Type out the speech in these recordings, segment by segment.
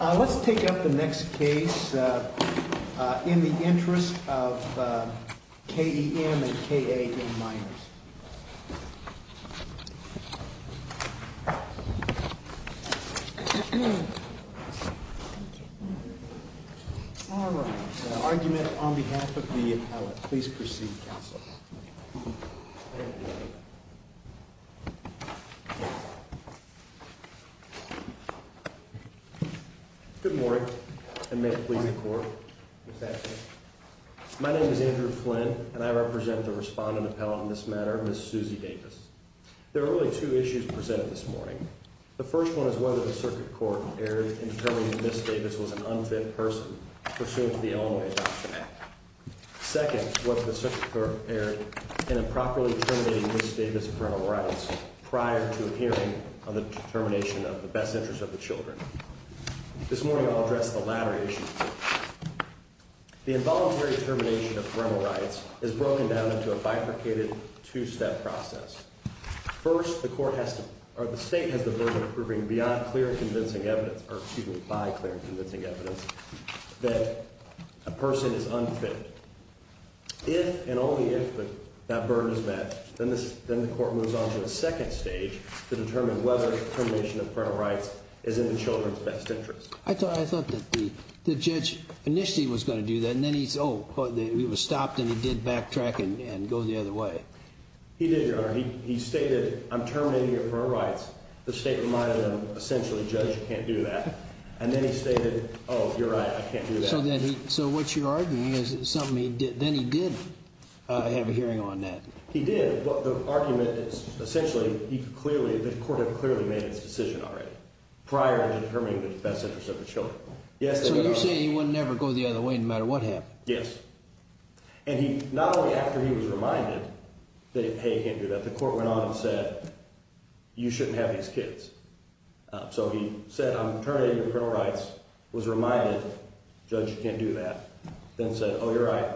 Let's take up the next case in the interest of K.E.M. and K.A.N. Meyers. All right, argument on behalf of the appellate. Please proceed, Counselor. Good morning, and may it please the Court. My name is Andrew Flynn, and I represent the respondent appellate in this matter, Ms. Suzy Davis. There are really two issues presented this morning. The first one is whether the Circuit Court erred in determining Ms. Davis was an unfit person pursuant to the Illinois Adoption Act. Second, whether the Circuit Court erred in improperly determining Ms. Davis' parental rights prior to a hearing on the determination of the best interest of the children. This morning I'll address the latter issue. The involuntary termination of parental rights is broken down into a bifurcated two-step process. First, the State has the burden of proving beyond clear and convincing evidence, or excuse me, by clear and convincing evidence, that a person is unfit. If and only if that burden is met, then the Court moves on to a second stage to determine whether termination of parental rights is in the children's best interest. I thought that the judge initially was going to do that, and then he said, oh, it was stopped, and he did backtrack and go the other way. He did, Your Honor. He stated, I'm terminating your parental rights. The State reminded him, essentially, judge, you can't do that. And then he stated, oh, you're right, I can't do that. So what you're arguing is something he did. Then he did have a hearing on that. He did. But the argument is essentially he could clearly, the Court had clearly made its decision already prior to determining the best interest of the children. So you're saying he would never go the other way no matter what happened? Yes. And not only after he was reminded that, hey, you can't do that, the Court went on and said, you shouldn't have these kids. So he said, I'm terminating your parental rights, was reminded, judge, you can't do that, then said, oh, you're right,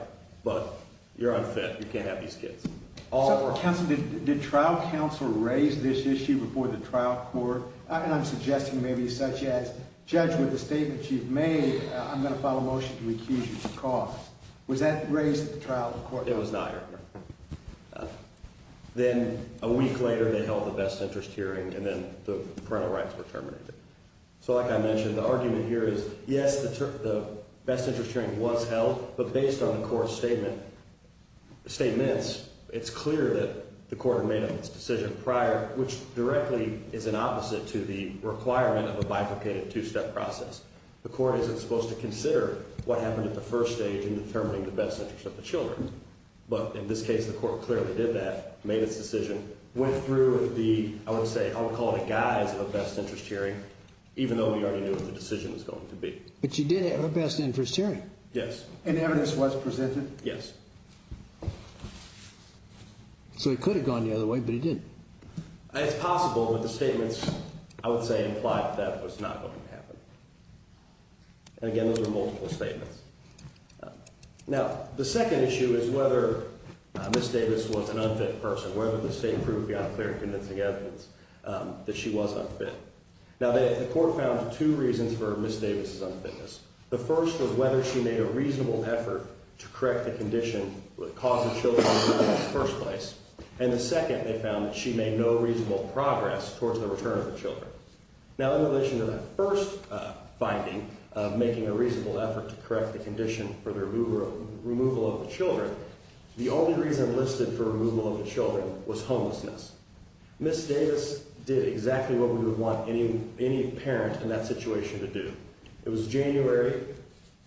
but you're unfit, you can't have these kids. Counsel, did trial counsel raise this issue before the trial court? And I'm suggesting maybe such as, judge, with the statements you've made, I'm going to file a motion to accuse you of cause. Was that raised at the trial court? It was not, Your Honor. Then a week later they held the best interest hearing, and then the parental rights were terminated. So like I mentioned, the argument here is, yes, the best interest hearing was held, but based on the Court's statements, it's clear that the Court made its decision prior, which directly is an opposite to the requirement of a bifurcated two-step process. The Court isn't supposed to consider what happened at the first stage in determining the best interest of the children. But in this case, the Court clearly did that, made its decision, went through the, I would say, I would call it a guise of a best interest hearing, even though we already knew what the decision was going to be. But you did have a best interest hearing. Yes. And evidence was presented? Yes. So he could have gone the other way, but he didn't. It's possible that the statements, I would say, implied that that was not going to happen. And again, those were multiple statements. Now, the second issue is whether Ms. Davis was an unfit person, whether the state proved beyond clear and convincing evidence that she was unfit. Now, the Court found two reasons for Ms. Davis' unfitness. The first was whether she made a reasonable effort to correct the condition that caused the children to return in the first place. And the second, they found that she made no reasonable progress towards the return of the children. Now, in relation to that first finding of making a reasonable effort to correct the condition for the removal of the children, the only reason listed for removal of the children was homelessness. Ms. Davis did exactly what we would want any parent in that situation to do. It was January.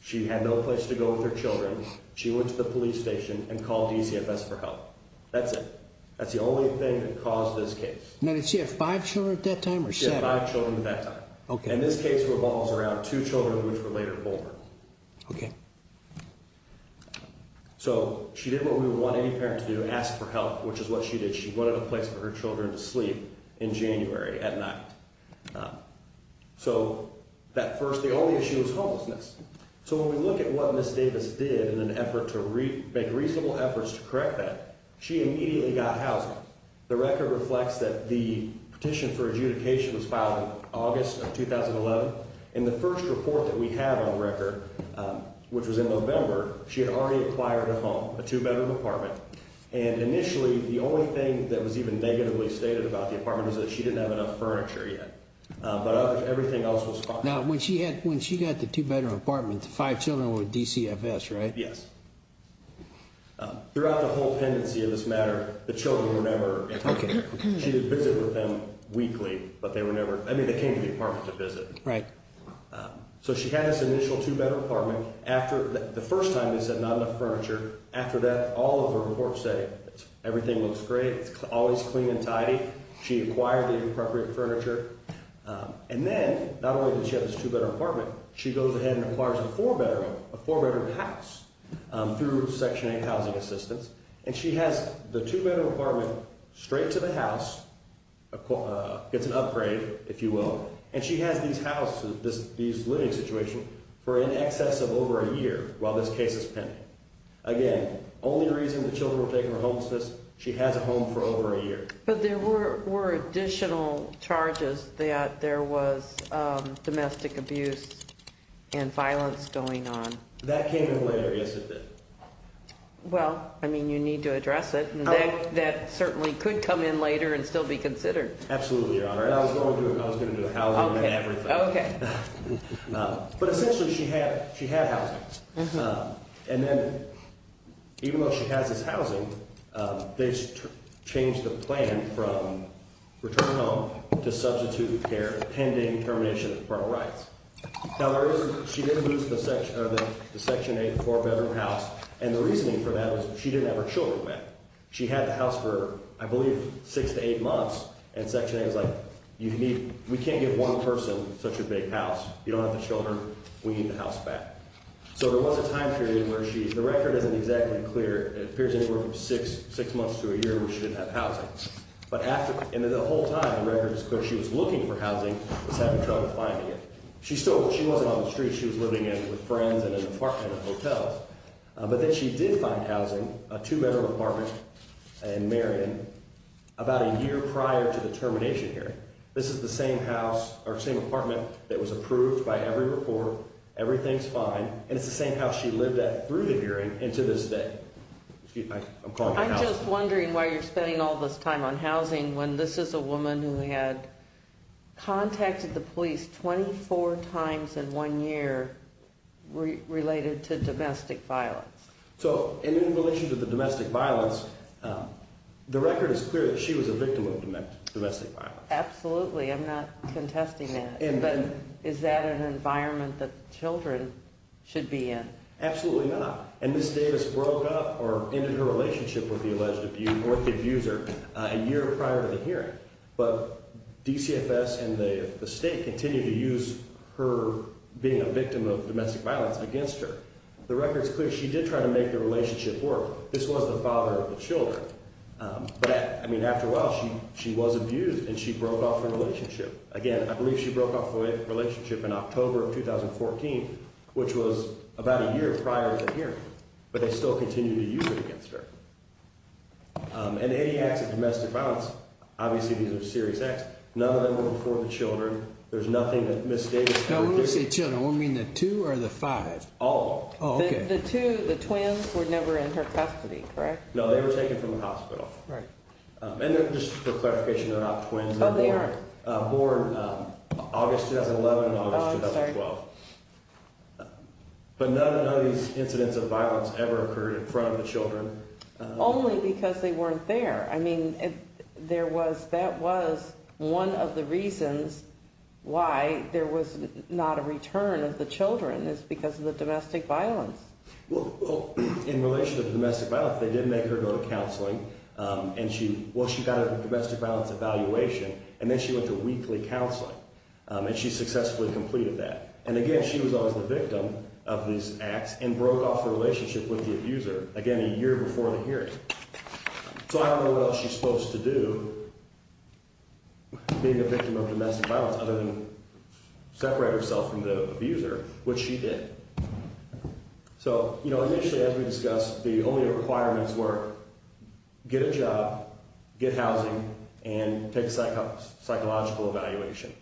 She had no place to go with her children. She went to the police station and called DCFS for help. That's it. That's the only thing that caused this case. Now, did she have five children at that time or seven? She had five children at that time. Okay. And this case revolves around two children, which were later born. Okay. So, she did what we would want any parent to do, ask for help, which is what she did. She wanted a place for her children to sleep in January at night. So, that first, the only issue was homelessness. So, when we look at what Ms. Davis did in an effort to make reasonable efforts to correct that, she immediately got housing. The record reflects that the petition for adjudication was filed in August of 2011. And the first report that we have on the record, which was in November, she had already acquired a home, a two-bedroom apartment. And initially, the only thing that was even negatively stated about the apartment is that she didn't have enough furniture yet. But everything else was fine. Now, when she got the two-bedroom apartment, the five children were with DCFS, right? Yes. Throughout the whole pendency of this matter, the children were never. Okay. She did visit with them weekly, but they were never, I mean, they came to the apartment to visit. Right. So, she had this initial two-bedroom apartment. After, the first time, they said not enough furniture. After that, all of her reports say everything looks great. It's always clean and tidy. She acquired the appropriate furniture. And then, not only did she have this two-bedroom apartment, she goes ahead and acquires a four-bedroom house through Section 8 housing assistance. And she has the two-bedroom apartment straight to the house. It's an upgrade, if you will. And she has these houses, these living situations, for in excess of over a year while this case is pending. Again, the only reason the children were taken from homelessness, she has a home for over a year. But there were additional charges that there was domestic abuse and violence going on. That came in later, yes, it did. Well, I mean, you need to address it. That certainly could come in later and still be considered. Absolutely, Your Honor. I was going to do housing and everything. Okay. But essentially, she had housing. And then, even though she has this housing, they changed the plan from return home to substitute care pending termination of her rights. Now, she did lose the Section 8 four-bedroom house, and the reasoning for that was she didn't have her children back. She had the house for, I believe, six to eight months, and Section 8 was like, we can't give one person such a big house. You don't have the children. We need the house back. So there was a time period where she – the record isn't exactly clear. It appears anywhere from six months to a year where she didn't have housing. But after – and the whole time, the record is clear. She was looking for housing, was having trouble finding it. She still – she wasn't on the streets. She was living in with friends in an apartment in a hotel. But then she did find housing, a two-bedroom apartment in Marion, about a year prior to the termination hearing. This is the same house or same apartment that was approved by every report. Everything's fine. And it's the same house she lived at through the hearing and to this day. I'm calling for housing. I'm just wondering why you're spending all this time on housing when this is a woman who had contacted the police 24 times in one year related to domestic violence. So in relation to the domestic violence, the record is clear that she was a victim of domestic violence. Absolutely. I'm not contesting that. But is that an environment that children should be in? Absolutely not. And Ms. Davis broke up or ended her relationship with the alleged – or the abuser a year prior to the hearing. But DCFS and the state continue to use her being a victim of domestic violence against her. The record is clear. This was the father of the children. But, I mean, after a while, she was abused and she broke off her relationship. Again, I believe she broke off the relationship in October of 2014, which was about a year prior to the hearing. But they still continue to use it against her. And any acts of domestic violence, obviously these are serious acts. None of them were before the children. There's nothing that Ms. Davis – Don't say children. I want to mean the two or the five. All of them. Oh, okay. The two, the twins, were never in her custody, correct? No, they were taken from the hospital. Right. And just for clarification, they're not twins. Oh, they aren't. Born August 2011 and August 2012. Oh, I'm sorry. But none of these incidents of violence ever occurred in front of the children. Only because they weren't there. I mean, there was – that was one of the reasons why there was not a return of the children is because of the domestic violence. Well, in relation to the domestic violence, they did make her go to counseling. And she – well, she got a domestic violence evaluation, and then she went to weekly counseling. And she successfully completed that. And again, she was always the victim of these acts and broke off the relationship with the abuser, again, a year before the hearing. So I don't know what else she's supposed to do, being a victim of domestic violence, other than separate herself from the abuser, which she did. So, you know, initially, as we discussed, the only requirements were get a job, get housing, and take a psychological evaluation.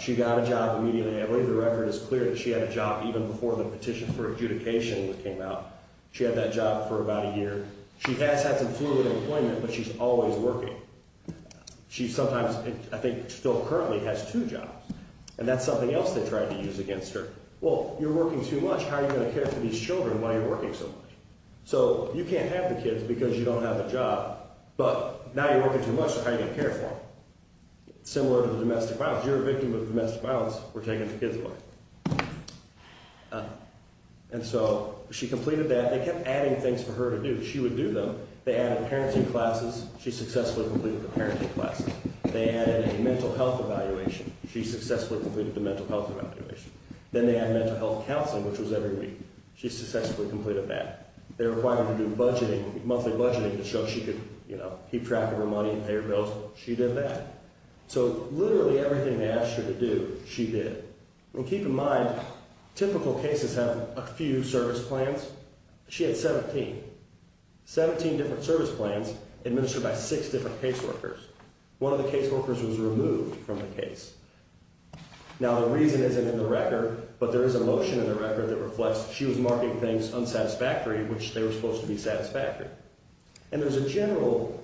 She got a job immediately. I believe the record is clear that she had a job even before the petition for adjudication came out. She had that job for about a year. She has had some fluid employment, but she's always working. She sometimes, I think still currently, has two jobs. And that's something else they tried to use against her. Well, you're working too much. How are you going to care for these children while you're working so much? So you can't have the kids because you don't have a job, but now you're working too much, how are you going to care for them? It's similar to the domestic violence. You're a victim of domestic violence. We're taking the kids away. And so she completed that. They kept adding things for her to do. She would do them. They added parenting classes. She successfully completed the parenting classes. They added a mental health evaluation. She successfully completed the mental health evaluation. Then they added mental health counseling, which was every week. She successfully completed that. They required her to do budgeting, monthly budgeting, to show she could keep track of her money and pay her bills. She did that. So literally everything they asked her to do, she did. And keep in mind, typical cases have a few service plans. She had 17, 17 different service plans administered by six different caseworkers. One of the caseworkers was removed from the case. Now, the reason isn't in the record, but there is a motion in the record that reflects she was marking things unsatisfactory, which they were supposed to be satisfactory. And there's a general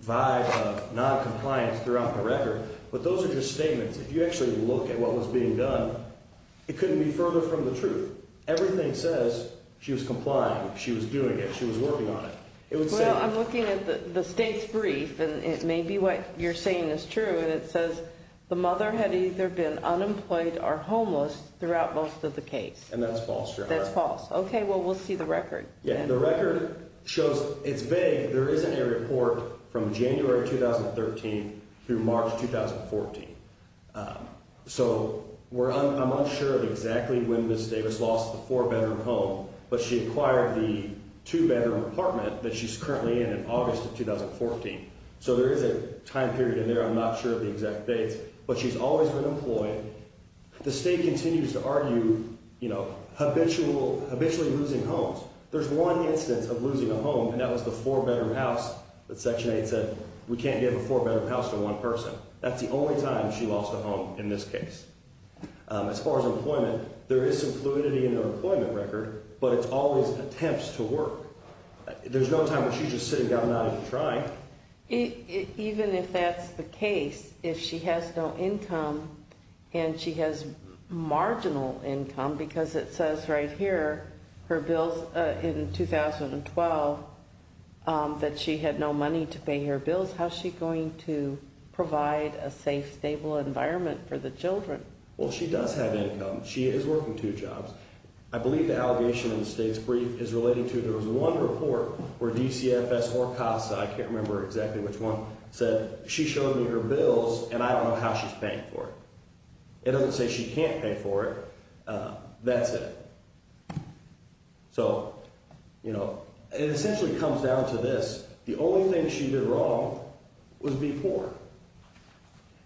vibe of noncompliance throughout the record, but those are just statements. If you actually look at what was being done, it couldn't be further from the truth. Everything says she was complying, she was doing it, she was working on it. Well, I'm looking at the state's brief, and it may be what you're saying is true, and it says the mother had either been unemployed or homeless throughout most of the case. And that's false. That's false. Okay. Well, we'll see the record. Yeah. The record shows it's vague. There isn't a report from January 2013 through March 2014. So I'm unsure of exactly when Ms. Davis lost the four-bedroom home, but she acquired the two-bedroom apartment that she's currently in in August of 2014. So there is a time period in there. I'm not sure of the exact dates. But she's always been employed. The state continues to argue, you know, habitually losing homes. There's one instance of losing a home, and that was the four-bedroom house that Section 8 said we can't give a four-bedroom house to one person. That's the only time she lost a home in this case. As far as employment, there is some fluidity in the employment record, but it's always attempts to work. There's no time when she's just sitting down not even trying. Even if that's the case, if she has no income and she has marginal income, because it says right here her bills in 2012 that she had no money to pay her bills, how is she going to provide a safe, stable environment for the children? Well, she does have income. She is working two jobs. I believe the allegation in the state's brief is relating to there was one report where DCFS or CASA, I can't remember exactly which one, said she showed me her bills and I don't know how she's paying for it. It doesn't say she can't pay for it. That's it. So, you know, it essentially comes down to this. The only thing she did wrong was be poor.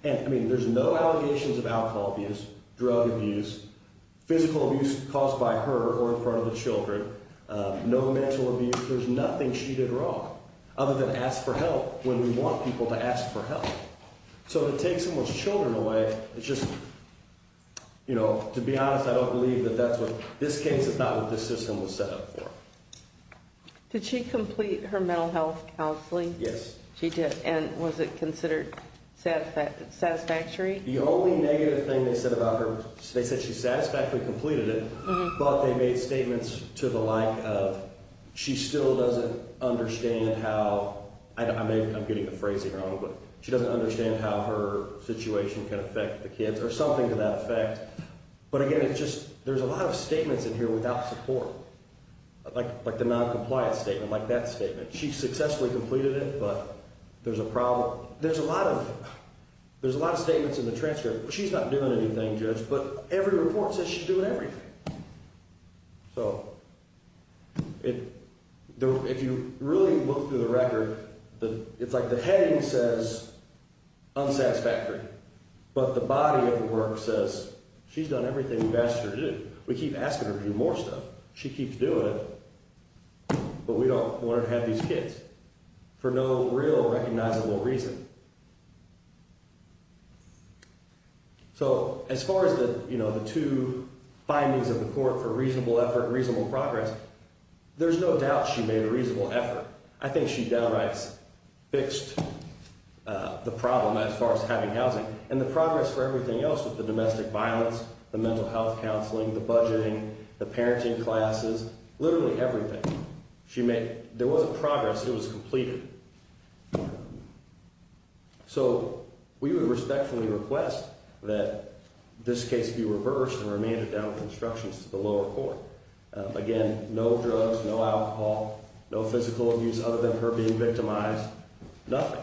And, I mean, there's no allegations of alcohol abuse, drug abuse, physical abuse caused by her or in front of the children, no mental abuse. There's nothing she did wrong other than ask for help when we want people to ask for help. So to take someone's children away, it's just, you know, to be honest, I don't believe that that's what this case, it's not what this system was set up for. Did she complete her mental health counseling? Yes. She did. And was it considered satisfactory? The only negative thing they said about her, they said she satisfactorily completed it, but they made statements to the like of she still doesn't understand how, I'm getting the phrasing wrong, but she doesn't understand how her situation can affect the kids or something to that effect. But, again, it's just there's a lot of statements in here without support, like the noncompliance statement, like that statement. She successfully completed it, but there's a problem. There's a lot of statements in the transcript. She's not doing anything, Judge, but every report says she's doing everything. So if you really look through the record, it's like the heading says unsatisfactory, but the body of the work says she's done everything we've asked her to do. We keep asking her to do more stuff. She keeps doing it, but we don't want her to have these kids for no real recognizable reason. So as far as the two findings of the court for reasonable effort, reasonable progress, there's no doubt she made a reasonable effort. I think she downright fixed the problem as far as having housing and the progress for everything else with the domestic violence, the mental health counseling, the budgeting, the parenting classes, literally everything. There wasn't progress. It was completed. So we would respectfully request that this case be reversed and remanded down with instructions to the lower court. Again, no drugs, no alcohol, no physical abuse other than her being victimized, nothing.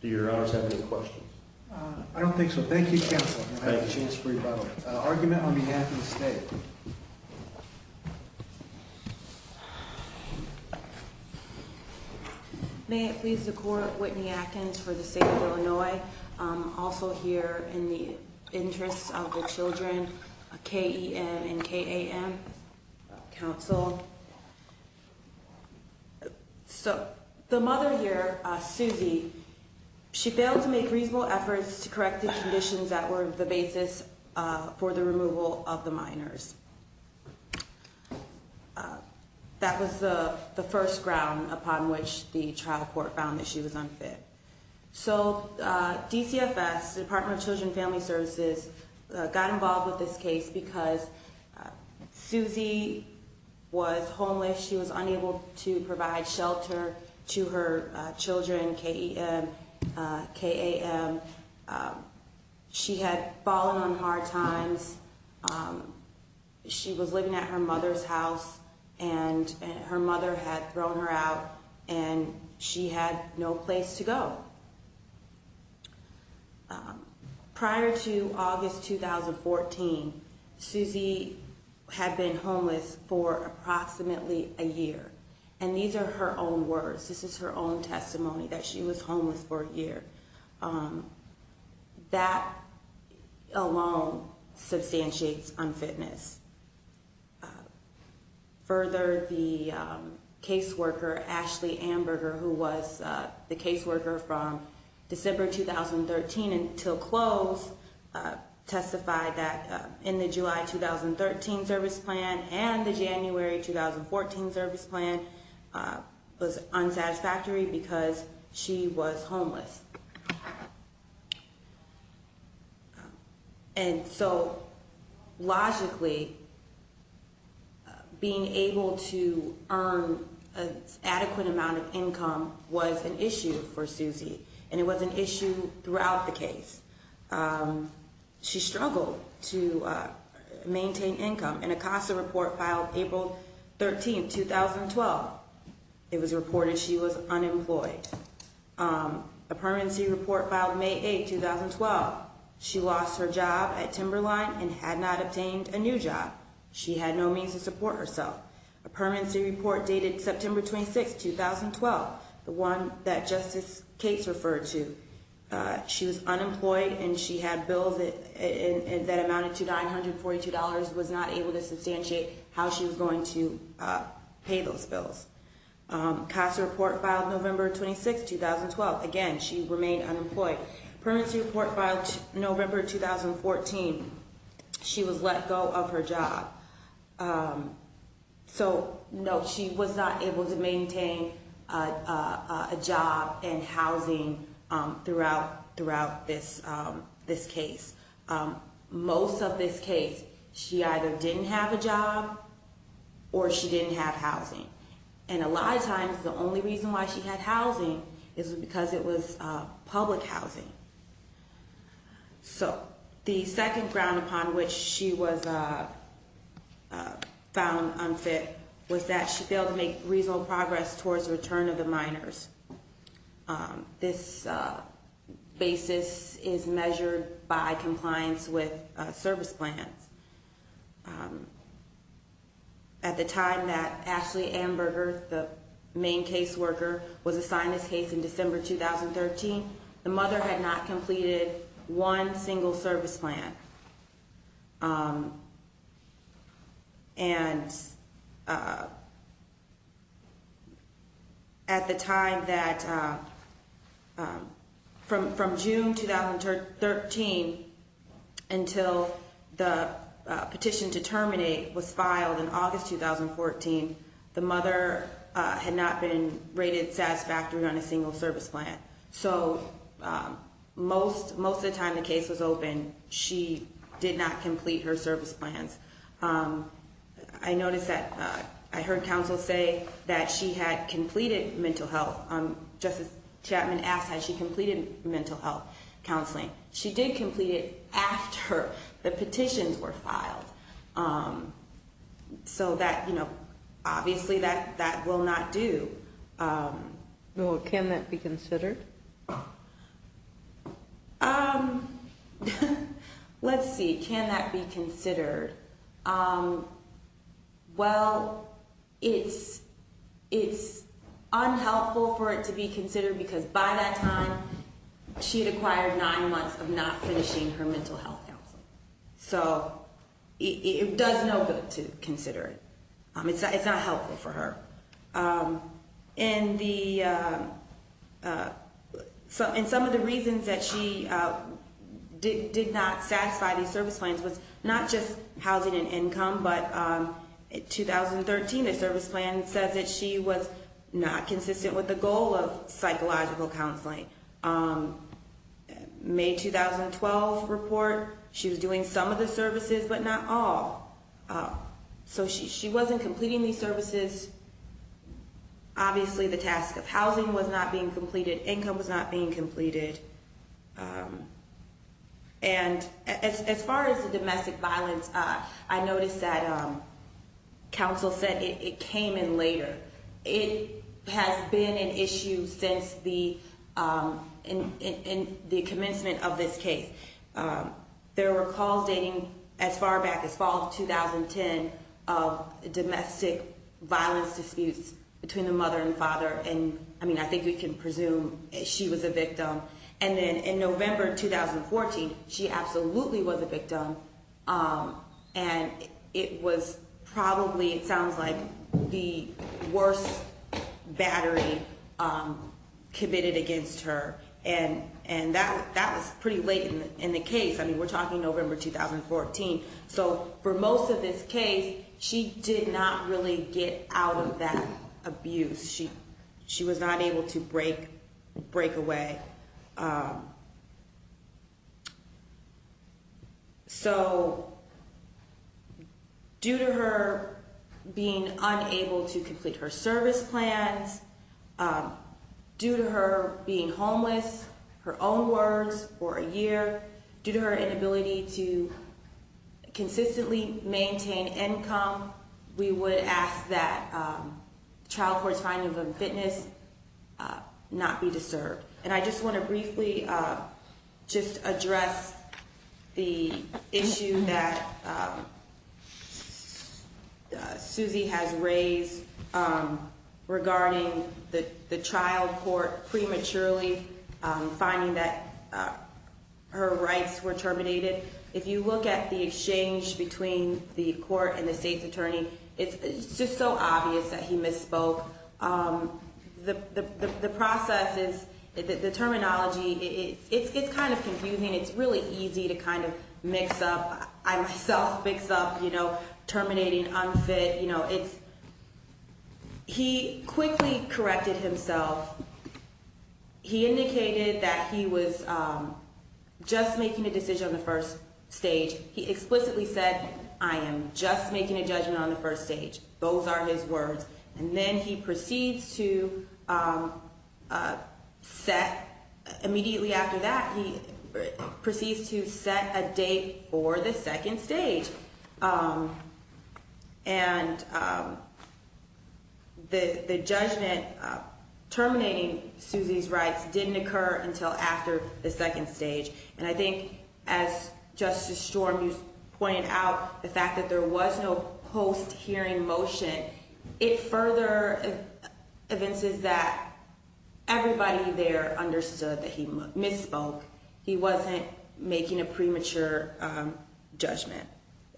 Do your honors have any questions? I don't think so. Thank you, Counselor. I have a chance for rebuttal. Argument on behalf of the state. May it please the court, Whitney Atkins for the state of Illinois. Also here in the interest of the children, KEN and KAM, counsel. So the mother here, Susie, she failed to make reasonable efforts to correct the conditions that were the basis for the removal of the minors. That was the first ground upon which the trial court found that she was unfit. So DCFS, Department of Children and Family Services, got involved with this case because Susie was homeless. She was unable to provide shelter to her children, KEN, KAM. She had fallen on hard times. She was living at her mother's house and her mother had thrown her out and she had no place to go. Prior to August 2014, Susie had been homeless for approximately a year. And these are her own words. This is her own testimony that she was homeless for a year. That alone substantiates unfitness. Further, the caseworker, Ashley Amberger, who was the caseworker from December 2013 until close, testified that in the July 2013 service plan and the January 2014 service plan, was unsatisfactory because she was homeless. And so logically, being able to earn an adequate amount of income was an issue for Susie. And it was an issue throughout the case. She struggled to maintain income. And a CASA report filed April 13, 2012, it was reported she was unemployed. A permanency report filed May 8, 2012. She lost her job at Timberline and had not obtained a new job. She had no means to support herself. A permanency report dated September 26, 2012, the one that Justice Cates referred to. She was unemployed and she had bills that amounted to $942, was not able to substantiate how she was going to pay those bills. CASA report filed November 26, 2012. Again, she remained unemployed. Permanency report filed November 2014. She was let go of her job. So no, she was not able to maintain a job and housing throughout this case. Most of this case, she either didn't have a job or she didn't have housing. And a lot of times the only reason why she had housing is because it was public housing. So the second ground upon which she was found unfit was that she failed to make reasonable progress towards the return of the minors. This basis is measured by compliance with service plans. At the time that Ashley Amberger, the main caseworker, was assigned this case in December 2013, the mother had not completed one single service plan. And at the time that, from June 2013 until the petition to terminate was filed in August 2014, the mother had not been rated satisfactory on a single service plan. So most of the time the case was open, she did not complete her service plans. I noticed that, I heard counsel say that she had completed mental health, Justice Chapman asked had she completed mental health counseling. She did complete it after the petitions were filed. So that, you know, obviously that will not do. Can that be considered? Let's see, can that be considered? Well, it's unhelpful for it to be considered because by that time she had acquired nine months of not finishing her mental health counseling. So it does no good to consider it. It's not helpful for her. And some of the reasons that she did not satisfy these service plans was not just housing and income, but in 2013 a service plan said that she was not consistent with the goal of psychological counseling. May 2012 report, she was doing some of the services but not all. So she wasn't completing these services. Obviously the task of housing was not being completed. Income was not being completed. And as far as the domestic violence, I noticed that counsel said it came in later. It has been an issue since the commencement of this case. There were calls dating as far back as fall of 2010 of domestic violence disputes between the mother and father. And, I mean, I think we can presume she was a victim. And then in November 2014, she absolutely was a victim. And it was probably, it sounds like, the worst battery committed against her. And that was pretty late in the case. I mean, we're talking November 2014. So for most of this case, she did not really get out of that abuse. She was not able to break away. So due to her being unable to complete her service plans, due to her being homeless, her own words for a year, due to her inability to consistently maintain income, we would ask that the child court's finding of a fitness not be disturbed. And I just want to briefly just address the issue that Suzy has raised regarding the child court prematurely finding that her rights were terminated. If you look at the exchange between the court and the state's attorney, it's just so obvious that he misspoke. The process is, the terminology, it's kind of confusing. It's really easy to kind of mix up, I myself mix up, you know, terminating unfit. You know, it's, he quickly corrected himself. He indicated that he was just making a decision on the first stage. He explicitly said, I am just making a judgment on the first stage. Those are his words. And then he proceeds to set, immediately after that, he proceeds to set a date for the second stage. And the judgment terminating Suzy's rights didn't occur until after the second stage. And I think, as Justice Storm used to point out, the fact that there was no post-hearing motion, it further evinces that everybody there understood that he misspoke. He wasn't making a premature judgment.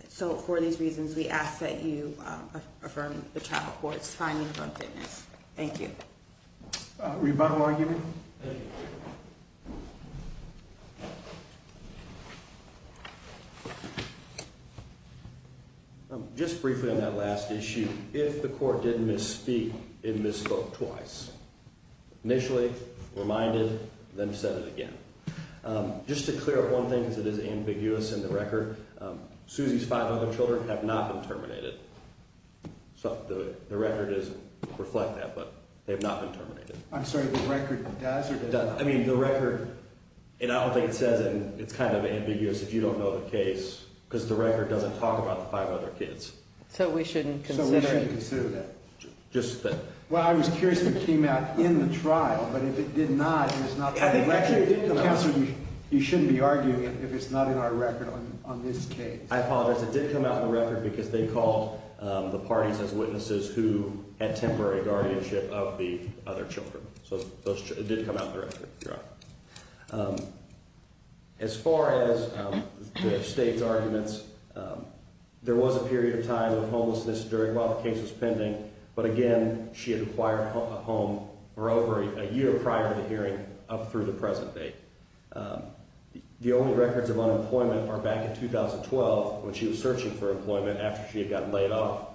So for these reasons, we ask that you affirm the child court's finding of unfitness. Thank you. Rebuttal argument? Thank you. Just briefly on that last issue, if the court didn't misspeak, it misspoke twice. Initially, reminded, then said it again. Just to clear up one thing, because it is ambiguous in the record, Suzy's five other children have not been terminated. So the record doesn't reflect that, but they have not been terminated. I'm sorry, the record does or does not? I mean, the record, and I don't think it says it, and it's kind of ambiguous if you don't know the case, because the record doesn't talk about the five other kids. So we shouldn't consider it? So we shouldn't consider that? Just that. Well, I was curious if it came out in the trial, but if it did not, then it's not in the record. Counsel, you shouldn't be arguing if it's not in our record on this case. I apologize. It did come out in the record because they called the parties as witnesses who had temporary guardianship of the other children. So it did come out in the record. As far as the state's arguments, there was a period of time of homelessness during while the case was pending, but again, she had acquired a home for over a year prior to the hearing up through the present date. The only records of unemployment are back in 2012 when she was searching for employment after she had gotten laid off,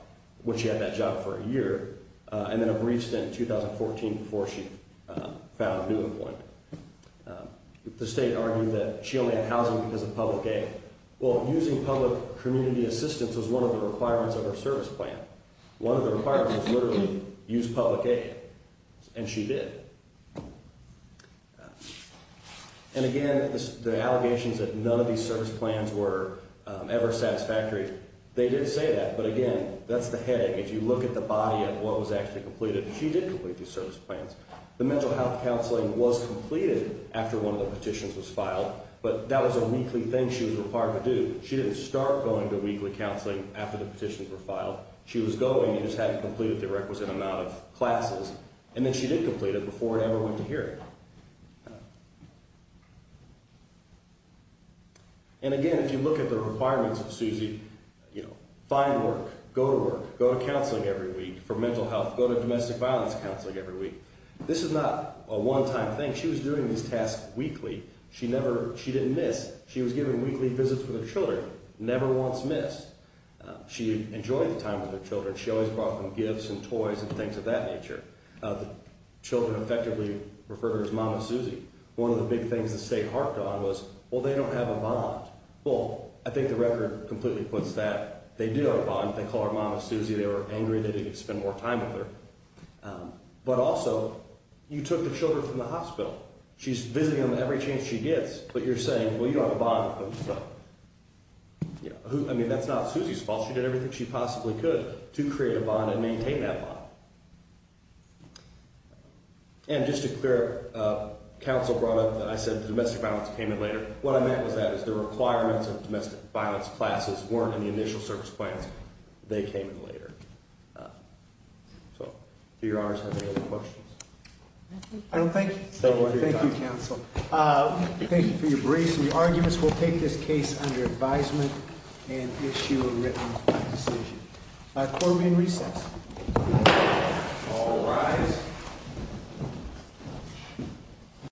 when she had that job for a year, and then a brief stint in 2014 before she found new employment. The state argued that she only had housing because of public aid. Well, using public community assistance was one of the requirements of her service plan. One of the requirements was literally use public aid, and she did. And again, the allegations that none of these service plans were ever satisfactory, they did say that, but again, that's the headache. If you look at the body of what was actually completed, she did complete these service plans. The mental health counseling was completed after one of the petitions was filed, but that was a weekly thing she was required to do. She didn't start going to weekly counseling after the petitions were filed. She was going and just hadn't completed the requisite amount of classes, and then she did complete it before it ever went to hearing. And again, if you look at the requirements of Susie, find work, go to work, go to counseling every week for mental health, go to domestic violence counseling every week. This is not a one-time thing. She was doing these tasks weekly. She didn't miss. She was giving weekly visits with her children, never once missed. She enjoyed the time with her children. She always brought them gifts and toys and things of that nature. The children effectively referred her as Mama Susie. One of the big things the state harped on was, well, they don't have a bond. Well, I think the record completely puts that. They do have a bond. They call her Mama Susie. They were angry they didn't spend more time with her. But also, you took the children from the hospital. She's visiting them every chance she gets, but you're saying, well, you don't have a bond with them. I mean, that's not Susie's fault. She did everything she possibly could to create a bond and maintain that bond. And just to clear up, counsel brought up that I said the domestic violence came in later. What I meant was that is the requirements of domestic violence classes weren't in the initial service plans. They came in later. So do your honors have any other questions? I don't think so. Thank you, counsel. Thank you for your briefs. The arguments will take this case under advisement and issue a written decision. Court will be in recess. All rise.